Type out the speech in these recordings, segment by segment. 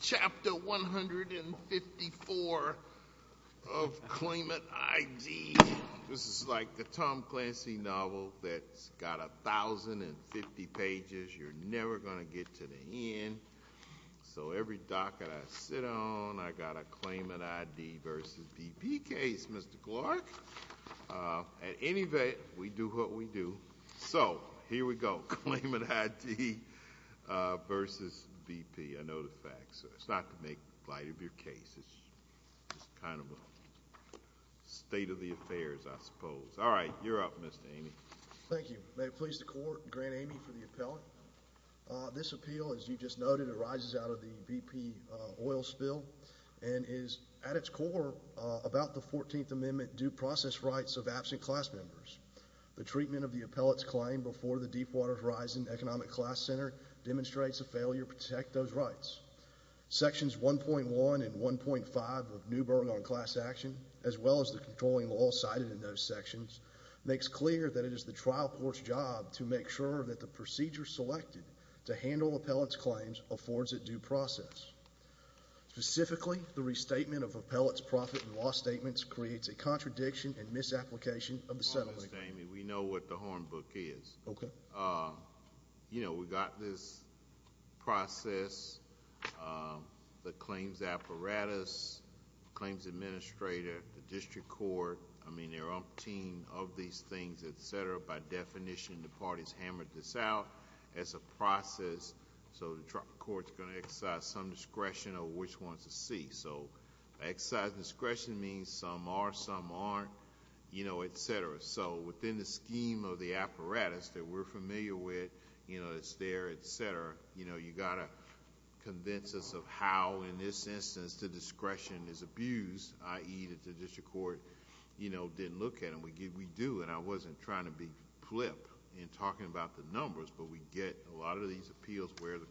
Chapter 154 of claimant ID. This is like the Tom Clancy novel that's got 1050 pages. You're never going to get to the end. So every docket I sit on, I got a claimant ID versus BP case, Mr. Clark. At any rate, we do what we do. So here we go. Claimant ID versus BP. I know the facts. It's not to make light of your case. It's just kind of a state of the affairs, I suppose. All right, you're up, Mr. Amey. Thank you. May it please the Court, Grant Amey for the appellate. This appeal, as you just noted, arises out of the BP oil spill and is at its core about the 14th Amendment due process rights of absent class members. The treatment of the appellate's claim before the Deepwater Horizon Economic Class Center demonstrates a failure to protect those rights. Sections 1.1 and 1.5 of Newburgh on Class Action, as well as the controlling law cited in those sections, makes clear that it is the trial court's job to make sure that the procedure selected to handle appellate's claims affords it due process. Specifically, the restatement of contradiction and misapplication of the settlement agreement. Honest, Amey. We know what the horn book is. Okay. You know, we got this process, the claims apparatus, claims administrator, the district court. I mean, they're on a team of these things, etc. By definition, the parties hammered this out as a process. So the court's going to exercise some discretion over which ones to see. So exercising discretion means some are, some aren't, etc. So within the scheme of the apparatus that we're familiar with, it's there, etc., you got to convince us of how, in this instance, the discretion is abused, i.e. that the district court didn't look at them. We do, and I wasn't trying to be flip in talking about the numbers, but we get a lot of these appeals where the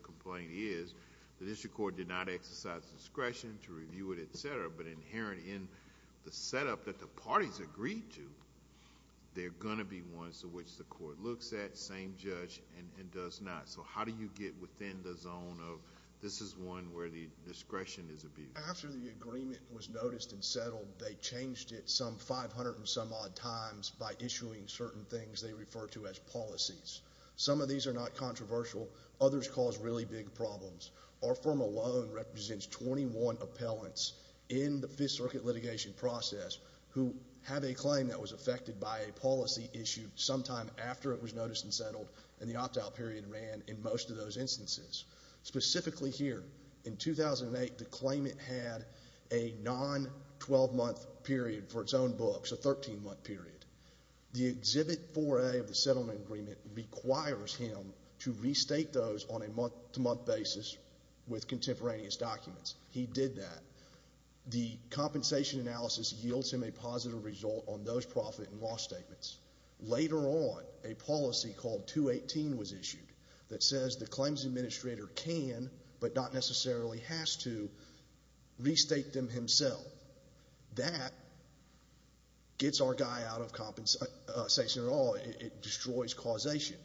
inherent in the setup that the parties agreed to, they're going to be ones to which the court looks at, same judge, and does not. So how do you get within the zone of, this is one where the discretion is abused? After the agreement was noticed and settled, they changed it some 500 and some odd times by issuing certain things they refer to as policies. Some of these are not controversial. Others cause really big problems. Our firm alone represents 21 appellants in the Fifth Circuit litigation process who have a claim that was affected by a policy issued sometime after it was noticed and settled, and the opt-out period ran in most of those instances. Specifically here, in 2008, the claimant had a non-12-month period for its own books, a 13-month period. The exhibit 4A of the settlement agreement requires him to restate those on a month-to-month basis with contemporaneous documents. He did that. The compensation analysis yields him a positive result on those profit and loss statements. Later on, a policy called 218 was issued that says the claims administrator can, but not necessarily has to, restate them himself. That gets our guy out of compensation at all. It destroys causation.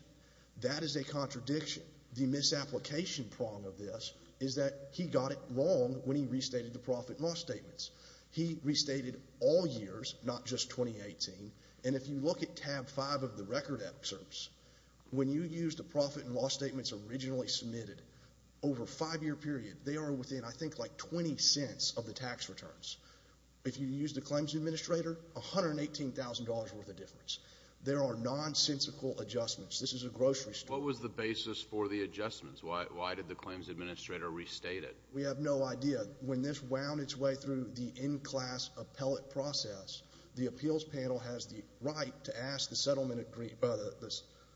That is a contradiction. The misapplication prong of this is that he got it wrong when he restated the profit and loss statements. He restated all years, not just 2018. And if you look at tab 5 of the record excerpts, when you use the profit and loss statements originally submitted over a five-year period, they are within, I think, like 20 cents of the tax returns. If you use the claims administrator, $118,000 worth of difference. There are nonsensical adjustments. This is a grocery store. What was the basis for the adjustments? Why did the claims administrator restate it? We have no idea. When this wound its way through the in-class appellate process, the appeals panel has the right to ask the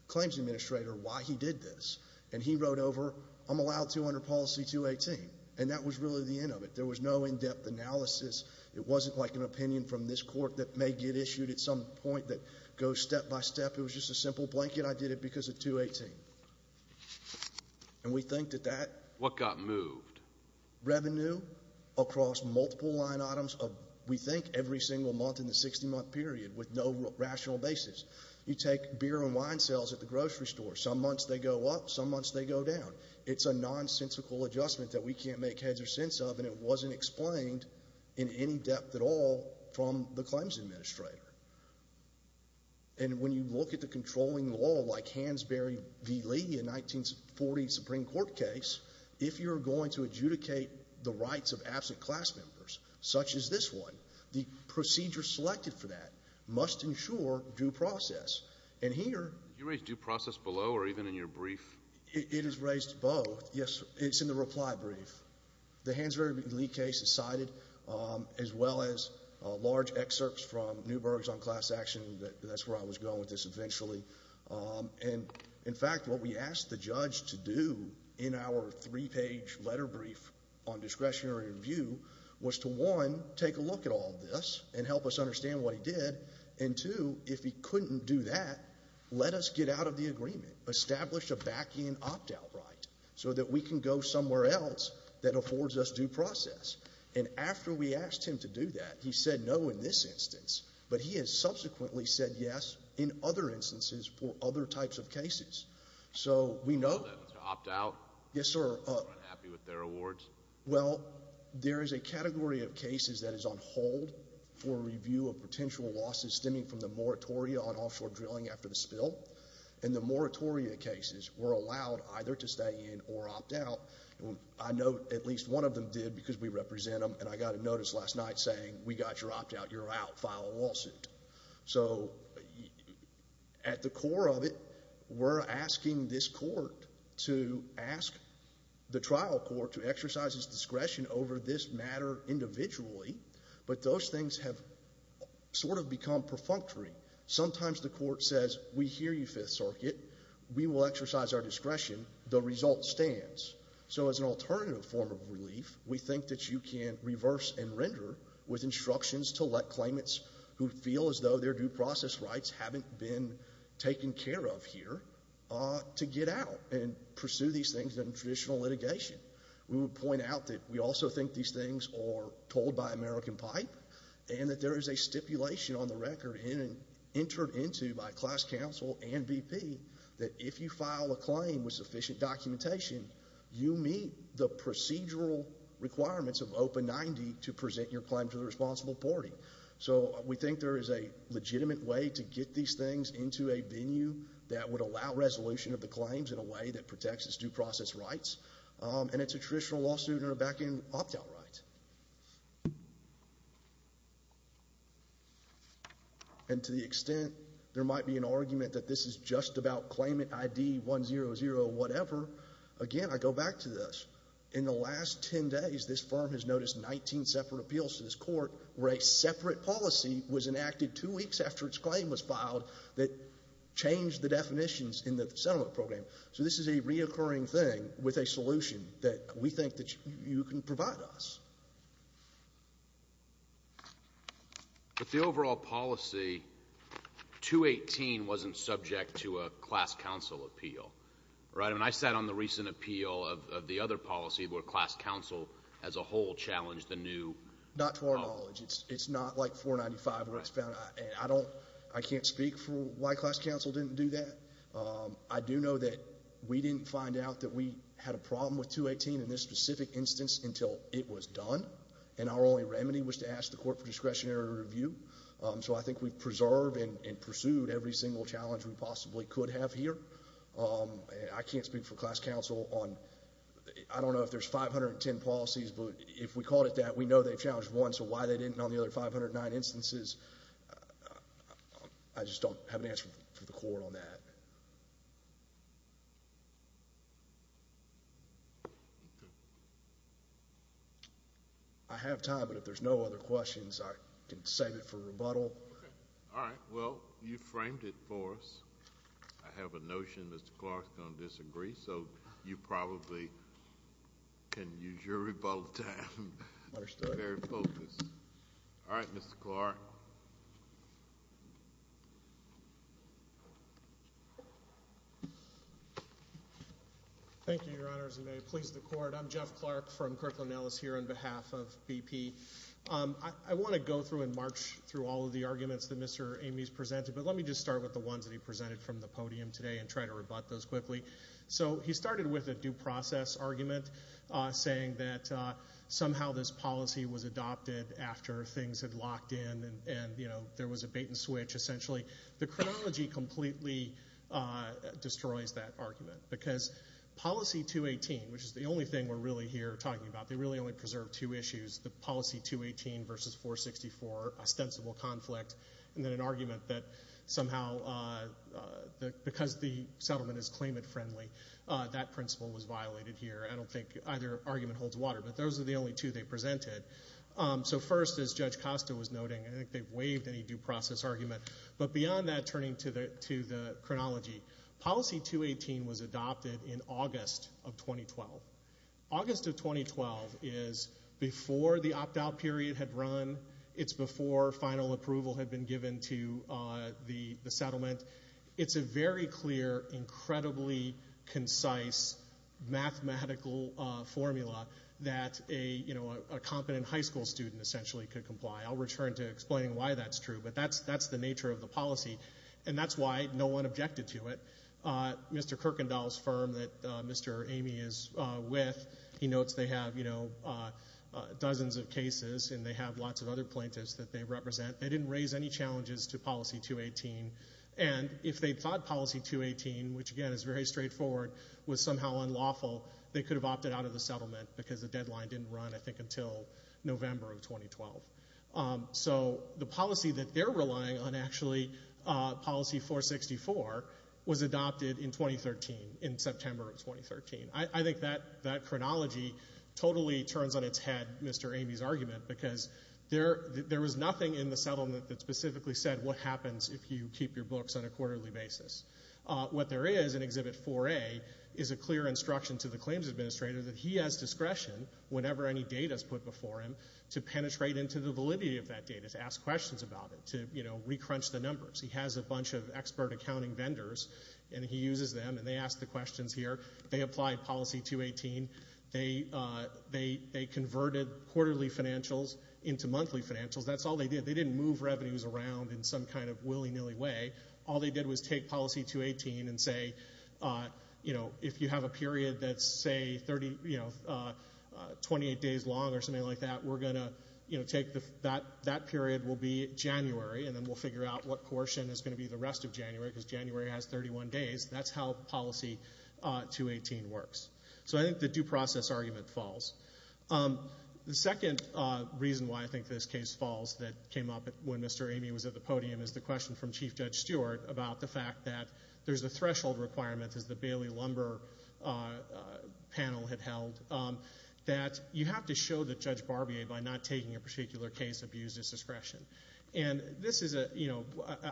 claims administrator why he did this. And he wrote over, I'm allowed to under policy 218. And that was really the end of it. There was no in-depth analysis. It wasn't like an opinion from this court that may get issued at some point that just a simple blanket, I did it because of 218. And we think that that. What got moved? Revenue across multiple line items of, we think, every single month in the 60-month period with no rational basis. You take beer and wine sales at the grocery store. Some months they go up, some months they go down. It's a nonsensical adjustment that we can't make heads or sense of, and it wasn't explained in any depth at all from the claims administrator. And when you look at the controlling law, like Hansberry v. Lee, a 1940 Supreme Court case, if you're going to adjudicate the rights of absent class members, such as this one, the procedure selected for that must ensure due process. And here... Did you raise due process below or even in your brief? It is raised both. Yes, it's in the reply brief. The Hansberry v. Lee case is cited, as well as large excerpts from Newberg's on class action. That's where I was going with this eventually. And, in fact, what we asked the judge to do in our three-page letter brief on discretionary review was to, one, take a look at all this and help us understand what he did. And, two, if he couldn't do that, let us get out of the agreement. Establish a back-end opt-out right so that we can go somewhere else that affords us due process. And after we asked him to do that, he said no in this instance, but he has subsequently said yes in other instances for other types of cases. So we know... Opt-out? Yes, sir. Unhappy with their awards? Well, there is a category of cases that is on hold for review of potential losses stemming from the moratoria on offshore drilling after the spill. And the moratoria cases were allowed either to stay in or opt-out. I know at least one of them did because we represent them. And I got a notice last night saying, we got your opt-out. You're out. File a lawsuit. So at the core of it, we're asking this court to ask the trial court to exercise its discretion over this matter individually. But those things have sort of become perfunctory. Sometimes the court says, we hear you, Fifth Circuit. We will exercise our discretion. The result stands. So as an alternative form of relief, we think that you can reverse and render with instructions to let claimants who feel as though their due process rights haven't been taken care of here to get out and pursue these things in traditional litigation. We would point out that we also think these things are told by American pipe and that there is a stipulation on the record entered into by class counsel and BP that if you file a claim with sufficient documentation, you meet the procedural requirements of OPA 90 to present your claim to the responsible party. So we think there is a legitimate way to get these things into a venue that would allow resolution of the claims in a way that protects its due process rights. And it's a traditional lawsuit in a back-end opt-out right. And to the extent there might be an argument that this is just about claimant ID 100 whatever, again, I go back to this. In the last 10 days, this firm has noticed 19 separate appeals to this court where a separate policy was enacted two weeks after its claim was filed that changed the definitions in the settlement program. So this is a reoccurring thing with a solution that we think that you can provide us. But the overall policy 218 wasn't subject to a class counsel appeal, right? I mean, I sat on the recent appeal of the other policy where class counsel as a whole challenged the new. Not to our knowledge. It's not like 495 where it's found. I don't, I can't speak for why class counsel didn't do that. I do know that we didn't find out that we had a problem with 218 in this specific instance until it was done. And our only remedy was to ask the court for discretionary review. So I think we've preserved and pursued every single challenge we possibly could have here. I can't speak for class counsel on, I don't know if there's 510 policies, but if we call it that, we know they've challenged one. So why they didn't on the other 509 instances, I just don't have an answer for the court on that. I have time, but if there's no other questions, I can save it for rebuttal. All right. Well, you framed it for us. I have a notion Mr. Clark's going to disagree, so you probably can use your rebuttal time. Understood. Very focused. All right, Mr. Clark. Thank you, your honors, and may it please the court. I'm Jeff Clark from Kirkland Ellis here on behalf of BP. I want to go through and march through all of the arguments that Mr. Amy's presented, but let me just start with the ones that he presented from the podium today and try to rebut those quickly. So he started with a due process argument saying that somehow this policy was adopted after things had happened. The terminology completely destroys that argument because policy 218, which is the only thing we're really here talking about, they really only preserve two issues, the policy 218 versus 464 ostensible conflict, and then an argument that somehow because the settlement is claimant friendly, that principle was violated here. I don't think either argument holds water, but those are the only two they presented. So first, as Judge Costa was noting, I think they've waived any due process argument. But beyond that, turning to the chronology, policy 218 was adopted in August of 2012. August of 2012 is before the opt-out period had run. It's before final approval had been given to the settlement. It's a very clear, incredibly concise mathematical formula that a competent high school student essentially could comply. I'll return to explaining why that's true, but that's the nature of the policy, and that's why no one objected to it. Mr. Kuykendall's firm that Mr. Amy is with, he notes they have dozens of cases and they have lots of other plaintiffs that they represent. They didn't raise any challenges to policy 218, and if they thought policy 218, which again is very straightforward, was somehow unlawful, they could have opted out of the settlement because the deadline didn't run, I think, until November of 2012. So the policy that they're relying on actually, policy 464, was adopted in 2013, in September of 2013. I think that chronology totally turns on its head, Mr. Amy's argument, because there was nothing in the settlement that specifically said what happens if you keep your books on a quarterly basis. What there is in Exhibit 4A is a clear instruction to the claims administrator that he has discretion whenever any data is put before him to penetrate into the validity of that data, to ask questions about it, to re-crunch the numbers. He has a bunch of expert accounting vendors, and he uses them, and they ask the questions here. They applied policy 218. They converted quarterly financials into monthly financials. That's all they did. They didn't move revenues around in some kind of willy-nilly way. All they did was take policy 218 and say, you know, if you have a period that is, say, 28 days long or something like that, that period will be January, and then we'll figure out what portion is going to be the rest of January, because January has 31 days. That's how policy 218 works. So I think the due process argument falls. The second reason why I think this case falls that came up when Mr. Amy was at the podium is the question from Chief Judge Stewart about the fact that there's a threshold requirement, as the Bailey-Lumber panel had held, that you have to show that Judge Barbier, by not taking a particular case, abused his discretion. And this is a, you know,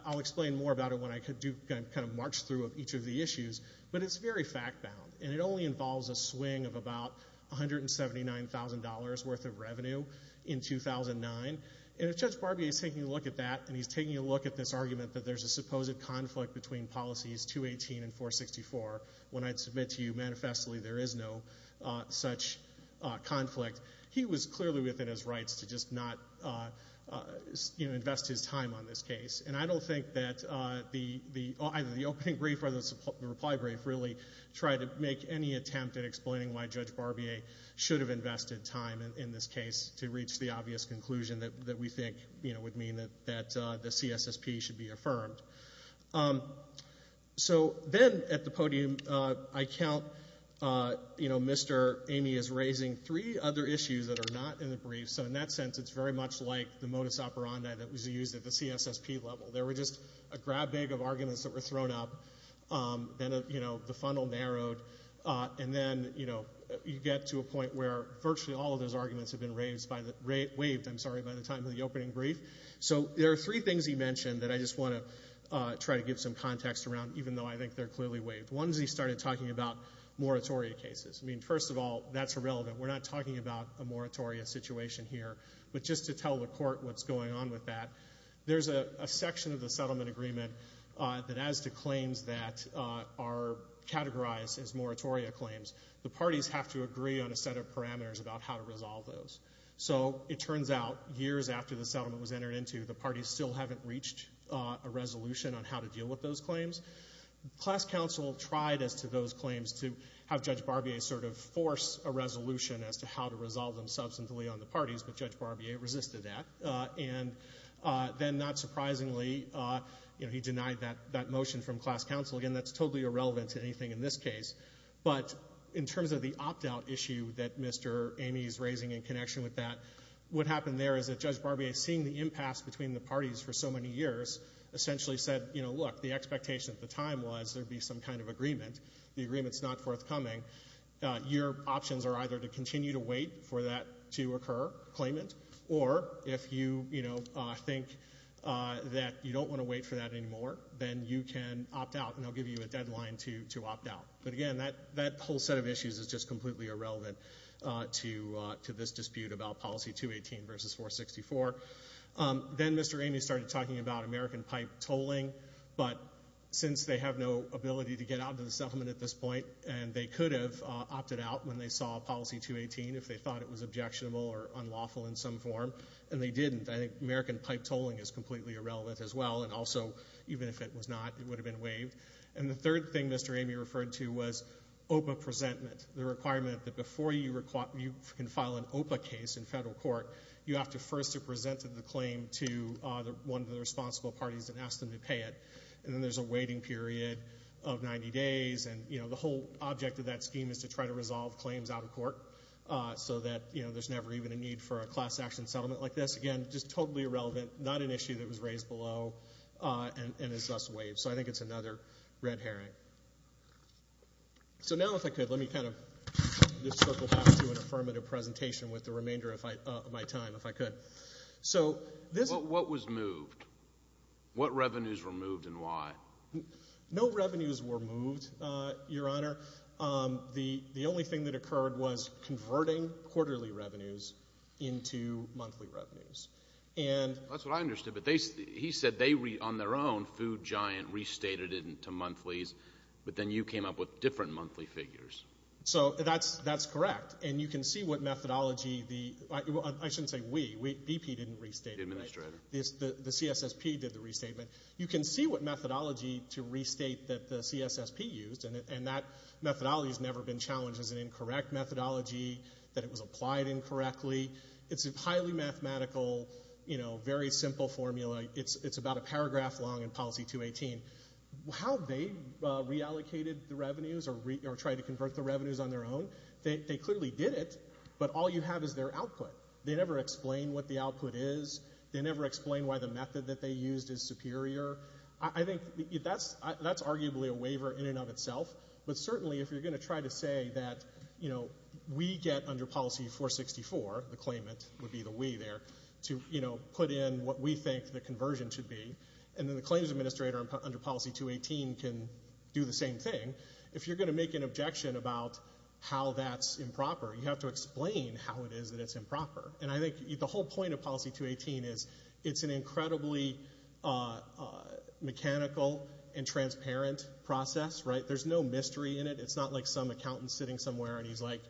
I'll explain more about it when I kind of march through each of the issues, but it's very fact-bound. And it only involves a swing of about $179,000 worth of revenue in 2009. And if Judge Barbier is taking a look at that, and he's taking a look at this argument that there's a supposed conflict between policies 218 and 464, when I'd submit to you manifestly there is no such conflict, he was clearly within his rights to just not, you know, invest his time on this case. And I don't think that either the opening brief or the reply brief really tried to make any attempt at explaining why Judge Barbier should have invested time in this case to reach the obvious conclusion that we think, you know, would mean that the CSSP should be affirmed. So then, at the podium, I count, you know, Mr. Amy is raising three other issues that are not in the brief. So in that sense, it's very much like the modus operandi that was used at the CSSP level. There were just a grab bag of arguments that were thrown up. Then, you know, the funnel narrowed. And then, you know, you get to a point where virtually all of those arguments have been waived by the time of the opening brief. So there are three things he mentioned that I just want to try to give some context around, even though I think they're clearly waived. One is he started talking about moratoria cases. I mean, first of all, that's irrelevant. We're not talking about a moratoria situation here. But just to tell the court what's going on with that, there's a section of the moratoria claims. The parties have to agree on a set of parameters about how to resolve those. So it turns out, years after the settlement was entered into, the parties still haven't reached a resolution on how to deal with those claims. Class counsel tried, as to those claims, to have Judge Barbier sort of force a resolution as to how to resolve them substantively on the parties. But Judge Barbier resisted that. And then, not surprisingly, you know, he denied that motion from class counsel. Again, that's totally irrelevant to anything in this case. But in terms of the opt-out issue that Mr. Amy's raising in connection with that, what happened there is that Judge Barbier, seeing the impasse between the parties for so many years, essentially said, you know, look, the expectation at the time was there'd be some kind of agreement. The agreement's not forthcoming. Your options are either to continue to wait for that to occur, claim it, or if you, you know, think that you don't want to wait for that anymore, then you can opt out, and they'll give you a deadline to opt out. But again, that whole set of issues is just completely irrelevant to this dispute about Policy 218 versus 464. Then Mr. Amy started talking about American pipe tolling. But since they have no ability to get out of the settlement at this point, and they could have opted out when they saw Policy 218, if they thought it was objectionable or unlawful in some form. And they didn't. I think American pipe tolling is completely irrelevant as well, and also even if it was not, it would have been waived. And the third thing Mr. Amy referred to was OPA presentment, the requirement that before you can file an OPA case in federal court, you have to first have presented the claim to one of the responsible parties and asked them to pay it. And then there's a waiting period of 90 days, and, you know, the whole object of that scheme is to try to resolve claims out of court so that, you know, there's never even a need for a class action settlement like this. Again, just totally irrelevant, not an issue that was raised below, and is thus waived. So I think it's another red herring. So now if I could, let me kind of just circle back to an affirmative presentation with the remainder of my time, if I was moved, what revenues were moved and why? No revenues were moved, Your Honor. The only thing that occurred was converting quarterly revenues into monthly revenues. That's what I understood, but he said they on their own, Food Giant, restated it into monthlies, but then you came up with different monthly figures. So that's correct, and you can see what methodology the, I shouldn't say we, BP didn't restate it. Administrator. The CSSP did the restatement. You can see what methodology to restate that the CSSP used, and that methodology has never been challenged as an incorrect methodology, that it was applied incorrectly. It's a highly mathematical, you know, very simple formula. It's about a paragraph long in Policy 218. How they reallocated the revenues or tried to convert the revenues on their own, they clearly did it, but all you have is their output. They never explain what the output is. They never explain why the method that they used is superior. I think that's arguably a waiver in and of itself, but certainly if you're going to try to say that, you know, we get under Policy 464, the claimant would be the we there, to, you know, put in what we think the conversion should be, and then the claims administrator under Policy 218 can do the same thing. If you're going to make an objection about how that's improper, you have to explain how it is that it's improper, and I think the whole point of Policy 218 is it's an incredibly mechanical and transparent process, right? There's no mystery in it. It's not like some accountant sitting somewhere, and he's like,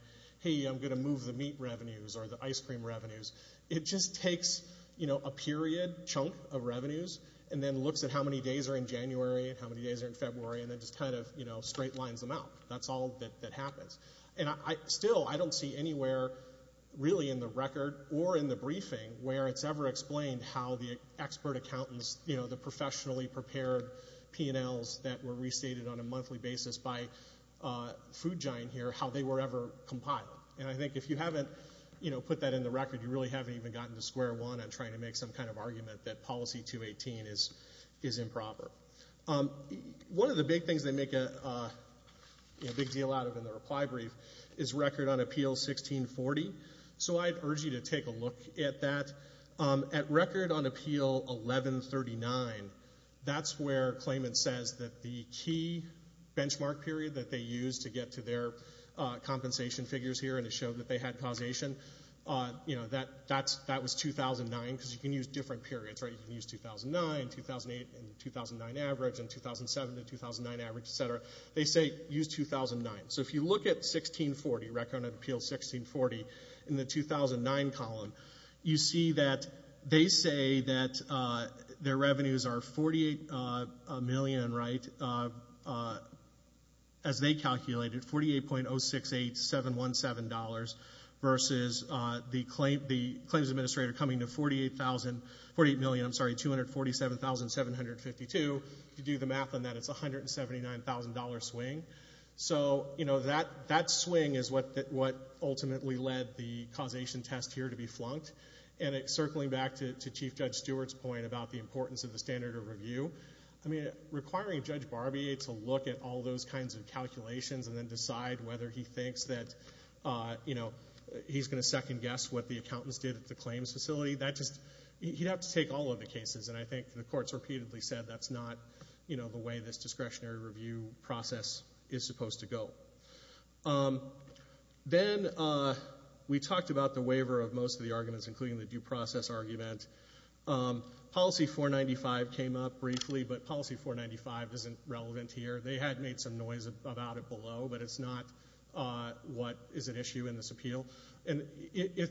hey, I'm going to move the meat revenues or the ice cream revenues. It just takes, you know, a period chunk of revenues, and then looks at how many days are in January and how many days are in February, and then just kind of, you know, straight lines them out. That's all that happens, and still, I don't see anywhere really in the record or in the briefing where it's ever explained how the expert accountants, you know, the professionally prepared P&Ls that were restated on a monthly basis by the P&Ls. If you haven't, you know, put that in the record, you really haven't even gotten to square one on trying to make some kind of argument that Policy 218 is improper. One of the big things they make a big deal out of in the reply brief is Record on Appeal 1640, so I'd urge you to take a look at that. At Record on Appeal 1139, that's where claimant says that the key had causation. You know, that was 2009, because you can use different periods, right? You can use 2009, 2008, and 2009 average, and 2007 to 2009 average, etc. They say use 2009, so if you look at 1640, Record on Appeal 1640, in the 2009 column, you see that they say that their revenues are $48 million, right? As they calculated, $48.068717, versus the claims administrator coming to $247,752. If you do the math on that, it's a $179,000 swing. So, you know, that swing is what ultimately led the causation test here to be flunked, and circling back to Chief Judge Stewart's point about the importance of the standard of review. I mean, requiring Judge Barbier to look at all those kinds of calculations and then decide whether he thinks that, you know, he's going to second guess what the accountants did at the claims facility, that just, he'd have to take all of the cases, and I think the Court's repeatedly said that's not, you know, the way this discretionary review process is supposed to go. Then we talked about the waiver of most of the arguments, including the due process argument. Policy 495 came up briefly, but Policy 495 isn't relevant here. They had made some noise about it below, but it's not what is an issue in this appeal. And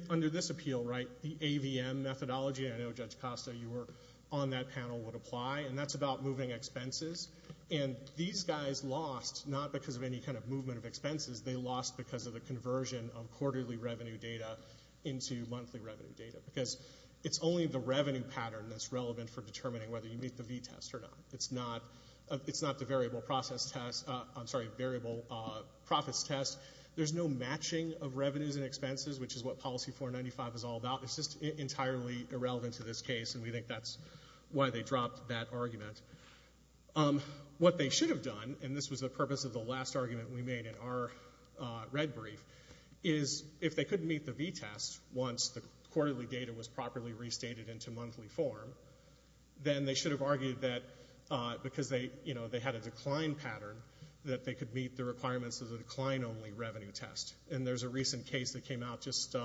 under this appeal, right, the AVM methodology, and I know Judge Costa, you were on that panel, would apply, and that's about moving expenses. And these guys lost, not because of any kind of movement of expenses, they lost because of the conversion of quarterly revenue data into monthly revenue data, because it's only the revenue pattern that's relevant for determining whether you meet the V-test or not. It's not the variable process test, I'm sorry, variable profits test. There's no matching of revenues and expenses, which is what Policy 495 is all about. It's just entirely irrelevant to this case, and we think that's why they dropped that argument. What they should have done, and this was the purpose of the last argument we made in our red brief, is if they couldn't meet the V-test once the quarterly data was properly restated into monthly form, then they should have argued that because they, you know, they had a decline pattern that they could meet the requirements of the decline-only revenue test. And there's a recent case that came out just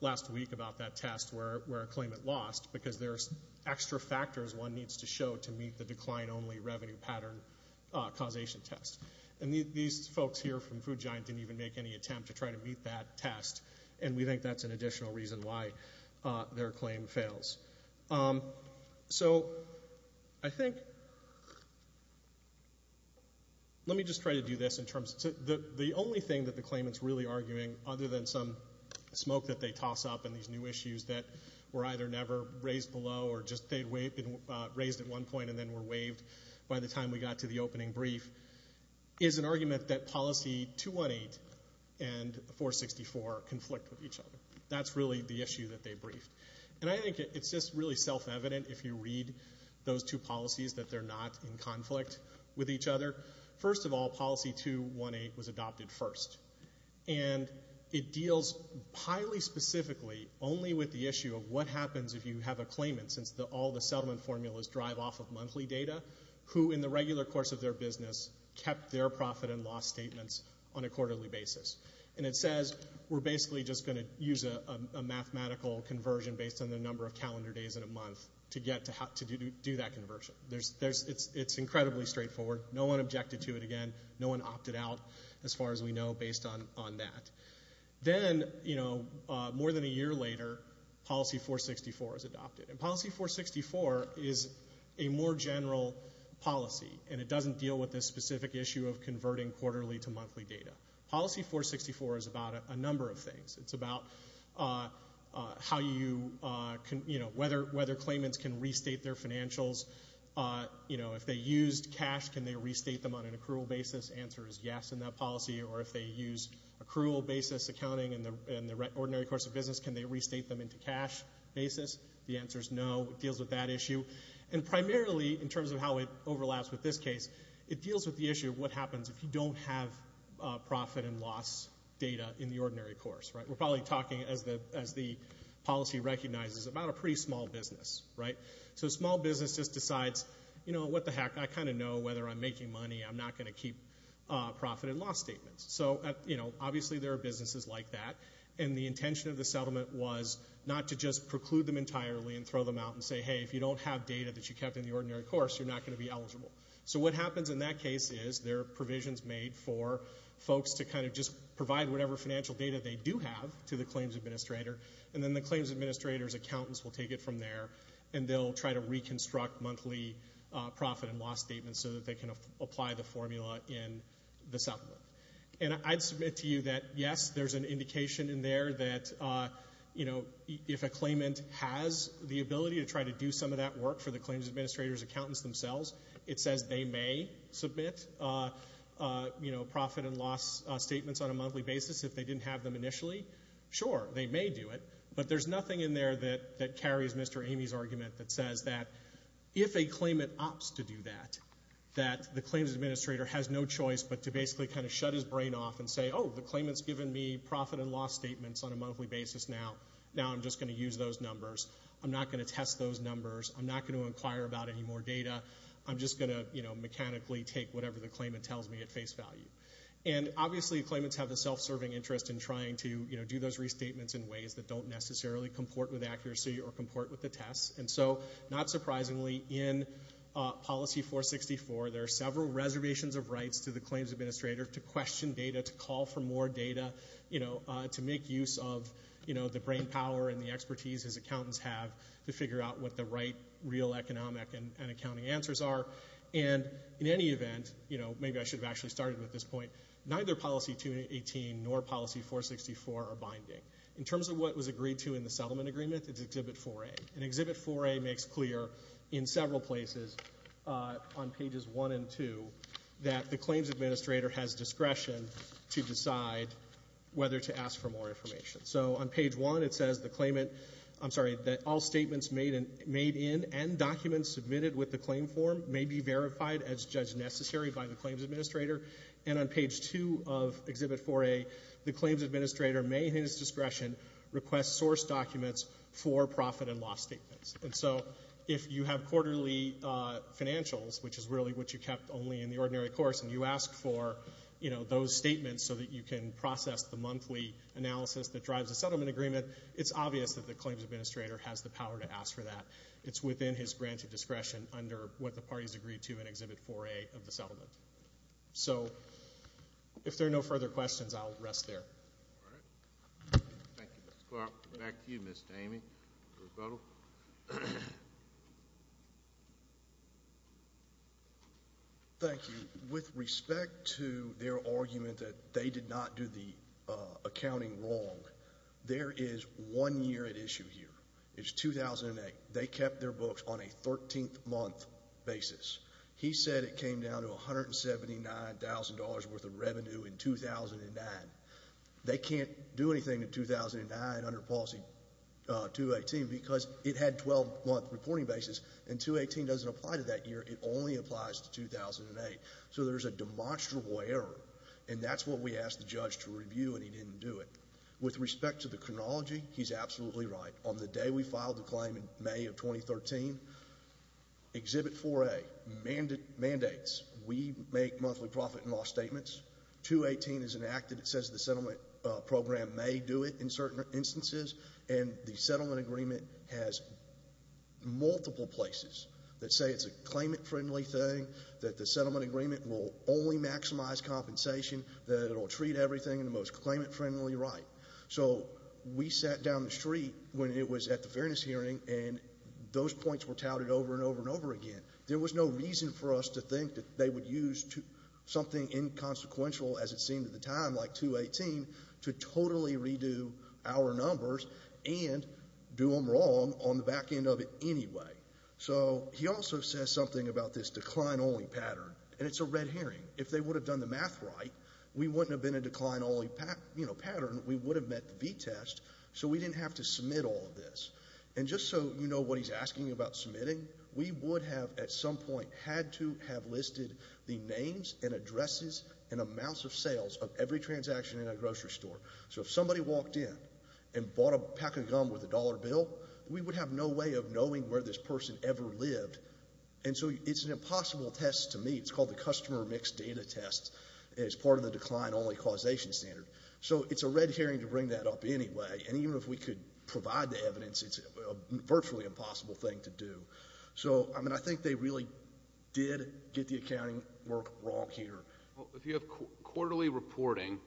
last week about that test where a claimant lost, because there's extra factors one needs to show to meet the decline-only revenue pattern causation test. And these folks here from Food Giant didn't even make any attempt to try to meet that test, and we think that's an additional reason why their claim fails. So, I think, let me just try to do this in terms, the only thing that the claimant's really arguing, other than some smoke that they toss up in these new issues that were either never raised below or just they'd raised at one point and then were waived by the time we got to the opening brief, is an argument that Policy 218 and 464 conflict with each other. That's really the issue that they briefed. And I think it's just really self-evident if you read those two policies that they're not in conflict with each other. First of all, Policy 218 was adopted first. And it deals highly specifically only with the issue of what happens if you have a claimant, since all the settlement formulas drive off of monthly data, who in the regular course of their business kept their profit and loss statements on a quarterly basis. And it says, we're basically just going to use a mathematical conversion based on the number of calendar days in a month to do that conversion. It's incredibly straightforward. No one objected to it again. No one opted out, as far as we know, based on that. Then, more than a year later, Policy 464 was adopted. And Policy 464 is a more general policy, and it doesn't deal with this specific issue of converting quarterly to monthly data. Policy 464 is about a number of things. It's about whether claimants can restate their financials. If they used cash, can they restate them on an accrual basis? The answer is yes in that policy. Or if they use accrual basis accounting in the ordinary course of business, can they restate them into cash basis? The answer is no. It deals with that issue. And primarily, in terms of how it overlaps with this case, it deals with the issue of what happens if you don't have profit and loss data in the ordinary course. We're probably talking, as the policy recognizes, about a pretty small business. So a small business just decides, what the heck, I kind of know whether I'm making money. I'm not going to keep profit and loss statements. So, obviously, there are businesses like that. And the intention of the settlement was not to just preclude them entirely and throw them out and say, hey, if you don't have data that you kept in the ordinary course, you're not going to be eligible. So what happens in that case is there are provisions made for folks to kind of just provide whatever financial data they do have to the claims administrator. And then the claims administrator's accountants will take it from there, and they'll try to reconstruct monthly profit and loss statements so that they can apply the formula in the settlement. And I'd submit to you that, yes, there's an indication in there that if a claimant has the ability to try to do some of that work for the claims administrator's accountants themselves, it says they may submit profit and loss statements on a monthly basis if they didn't have them initially. Sure, they may do it. But there's nothing in there that carries Mr. Amy's argument that says that if a claimant opts to do that, that the claims administrator has no choice but to basically kind of shut his brain off and say, oh, the claimant's given me profit and loss statements on a monthly basis now. Now I'm just going to use those numbers. I'm not going to test those numbers. I'm not going to inquire about any more data. I'm just going to mechanically take whatever the claimant tells me at face value. And, obviously, claimants have a self-serving interest in trying to do those restatements in ways that don't necessarily comport with accuracy or comport with the tests. And so, not surprisingly, in Policy 464, there are several reservations of rights to the claims administrator to question data, to call for more data, to make use of the brainpower and the expertise his accountants have to figure out what the right real economic and accounting answers are. And, in any event, you know, maybe I should have actually started with this point, neither Policy 218 nor Policy 464 are binding. In terms of what was agreed to in the settlement agreement, it's Exhibit 4A. And Exhibit 4A makes clear in several places on pages 1 and 2 that the claims administrator has discretion to decide whether to ask for more information. So, on page 1, it says the claimant, I'm sorry, that all statements made in and documents submitted with the claim form may be verified as judged necessary by the claims administrator. And on page 2 of Exhibit 4A, the claims administrator may, in his discretion, request source documents for profit and loss statements. And so, if you have quarterly financials, which is really what you kept only in the ordinary course, and you ask for, you know, those statements so that you can process the monthly analysis that drives a settlement agreement, it's obvious that the claims administrator has the power to ask for that. It's within his granted discretion under what the parties agreed to in Exhibit 4A of the settlement. So, if there are no further questions, I'll rest there. Thank you, Mr. Clark. Back to you, Ms. Damey. Mr. O'Donnell. Thank you. With respect to their argument that they did not do the accounting wrong, there is one year at issue here. It's 2008. They kept their books on a 13th month basis. He said it came down to $179,000 worth of revenue in 2009. They can't do anything in 2009 under Policy 218 because it had 12-month reporting basis, and 218 doesn't apply to that year. It only applies to 2008. So, there's a demonstrable error, and that's what we asked the judge to review, and he didn't do it. With respect to the chronology, he's absolutely right. On the day we filed the claim in May of 2013, Exhibit 4A mandates we make monthly profit and loss statements. 218 is enacted. It says the settlement program may do it in certain instances, and the settlement agreement has multiple places that say it's a claimant-friendly thing, that the settlement agreement will only maximize compensation, that it will treat everything in the most claimant-friendly right. So, we sat down the street when it was at the Fairness Hearing, and those points were touted over and over and over again. There was no reason for us to think that they would use something inconsequential, as it seemed at the time, like 218 to totally redo our numbers and do them wrong on the back end of it anyway. So, he also says something about this decline-only pattern, and it's a red herring. If they would have done the math right, we wouldn't have been a decline-only pattern. We would have met the V-test, so we didn't have to submit all of this. And just so you know what he's asking about submitting, we would have, at some point, had to have listed the names and addresses and amounts of sales of every transaction in a grocery store. So, if somebody walked in and bought a pack of gum with a dollar bill, we would have no way of knowing where this person ever lived. And so, it's an impossible test to meet. It's called the customer mixed data test, and it's part of the decline-only causation standard. So, it's a red herring to bring that up anyway, and even if we could provide the evidence, it's a virtually impossible thing to do. So, I mean, I think they really did get the accounting work wrong here. Well, if you have quarterly reporting,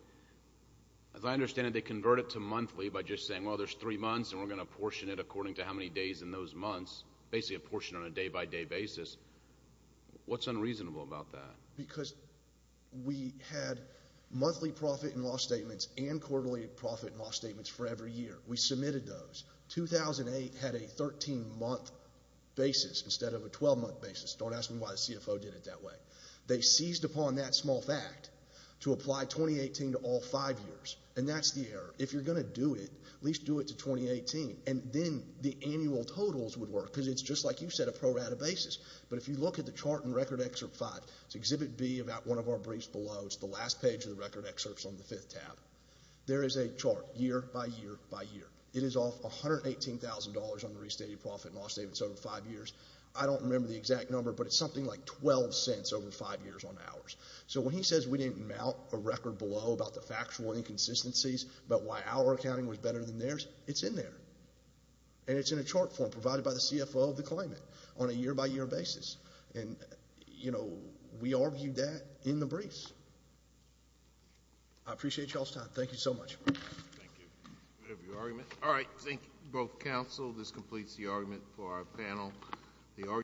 as I understand it, they convert it to monthly by just saying, well, there's three months, and we're going to portion it according to how many days in those months, basically a portion on a day-by-day basis. What's unreasonable about that? Because we had monthly profit and loss statements and quarterly profit and loss statements for every year. We submitted those. 2008 had a 13-month basis instead of a 12-month basis. Don't ask me why the CFO did it that way. They seized upon that small fact to apply 2018 to all five years, and that's the error. If you're going to do it, at least do it to 2018, and then the annual totals would work, because it's just like you said, a pro-rata basis. But if you look at the chart in Record Excerpt 5, it's Exhibit B, about one of our briefs below. It's the last page of the Record Excerpts on the fifth tab. There is a chart year by year by year. It is off $118,000 on the restated profit and loss statements over five years. I don't remember the exact number, but it's something like 12 cents over five years on ours. So when he says we didn't mount a record below about the factual inconsistencies about why our accounting was better than theirs, it's in there. And it's in a chart form provided by the CFO of the claimant on a year-by-year basis. And, you know, we argued that in the briefs. I appreciate y'all's time. Thank you so much. Thank you. Whatever your argument. All right. Thank you, both counsel. This completes the argument for our panel.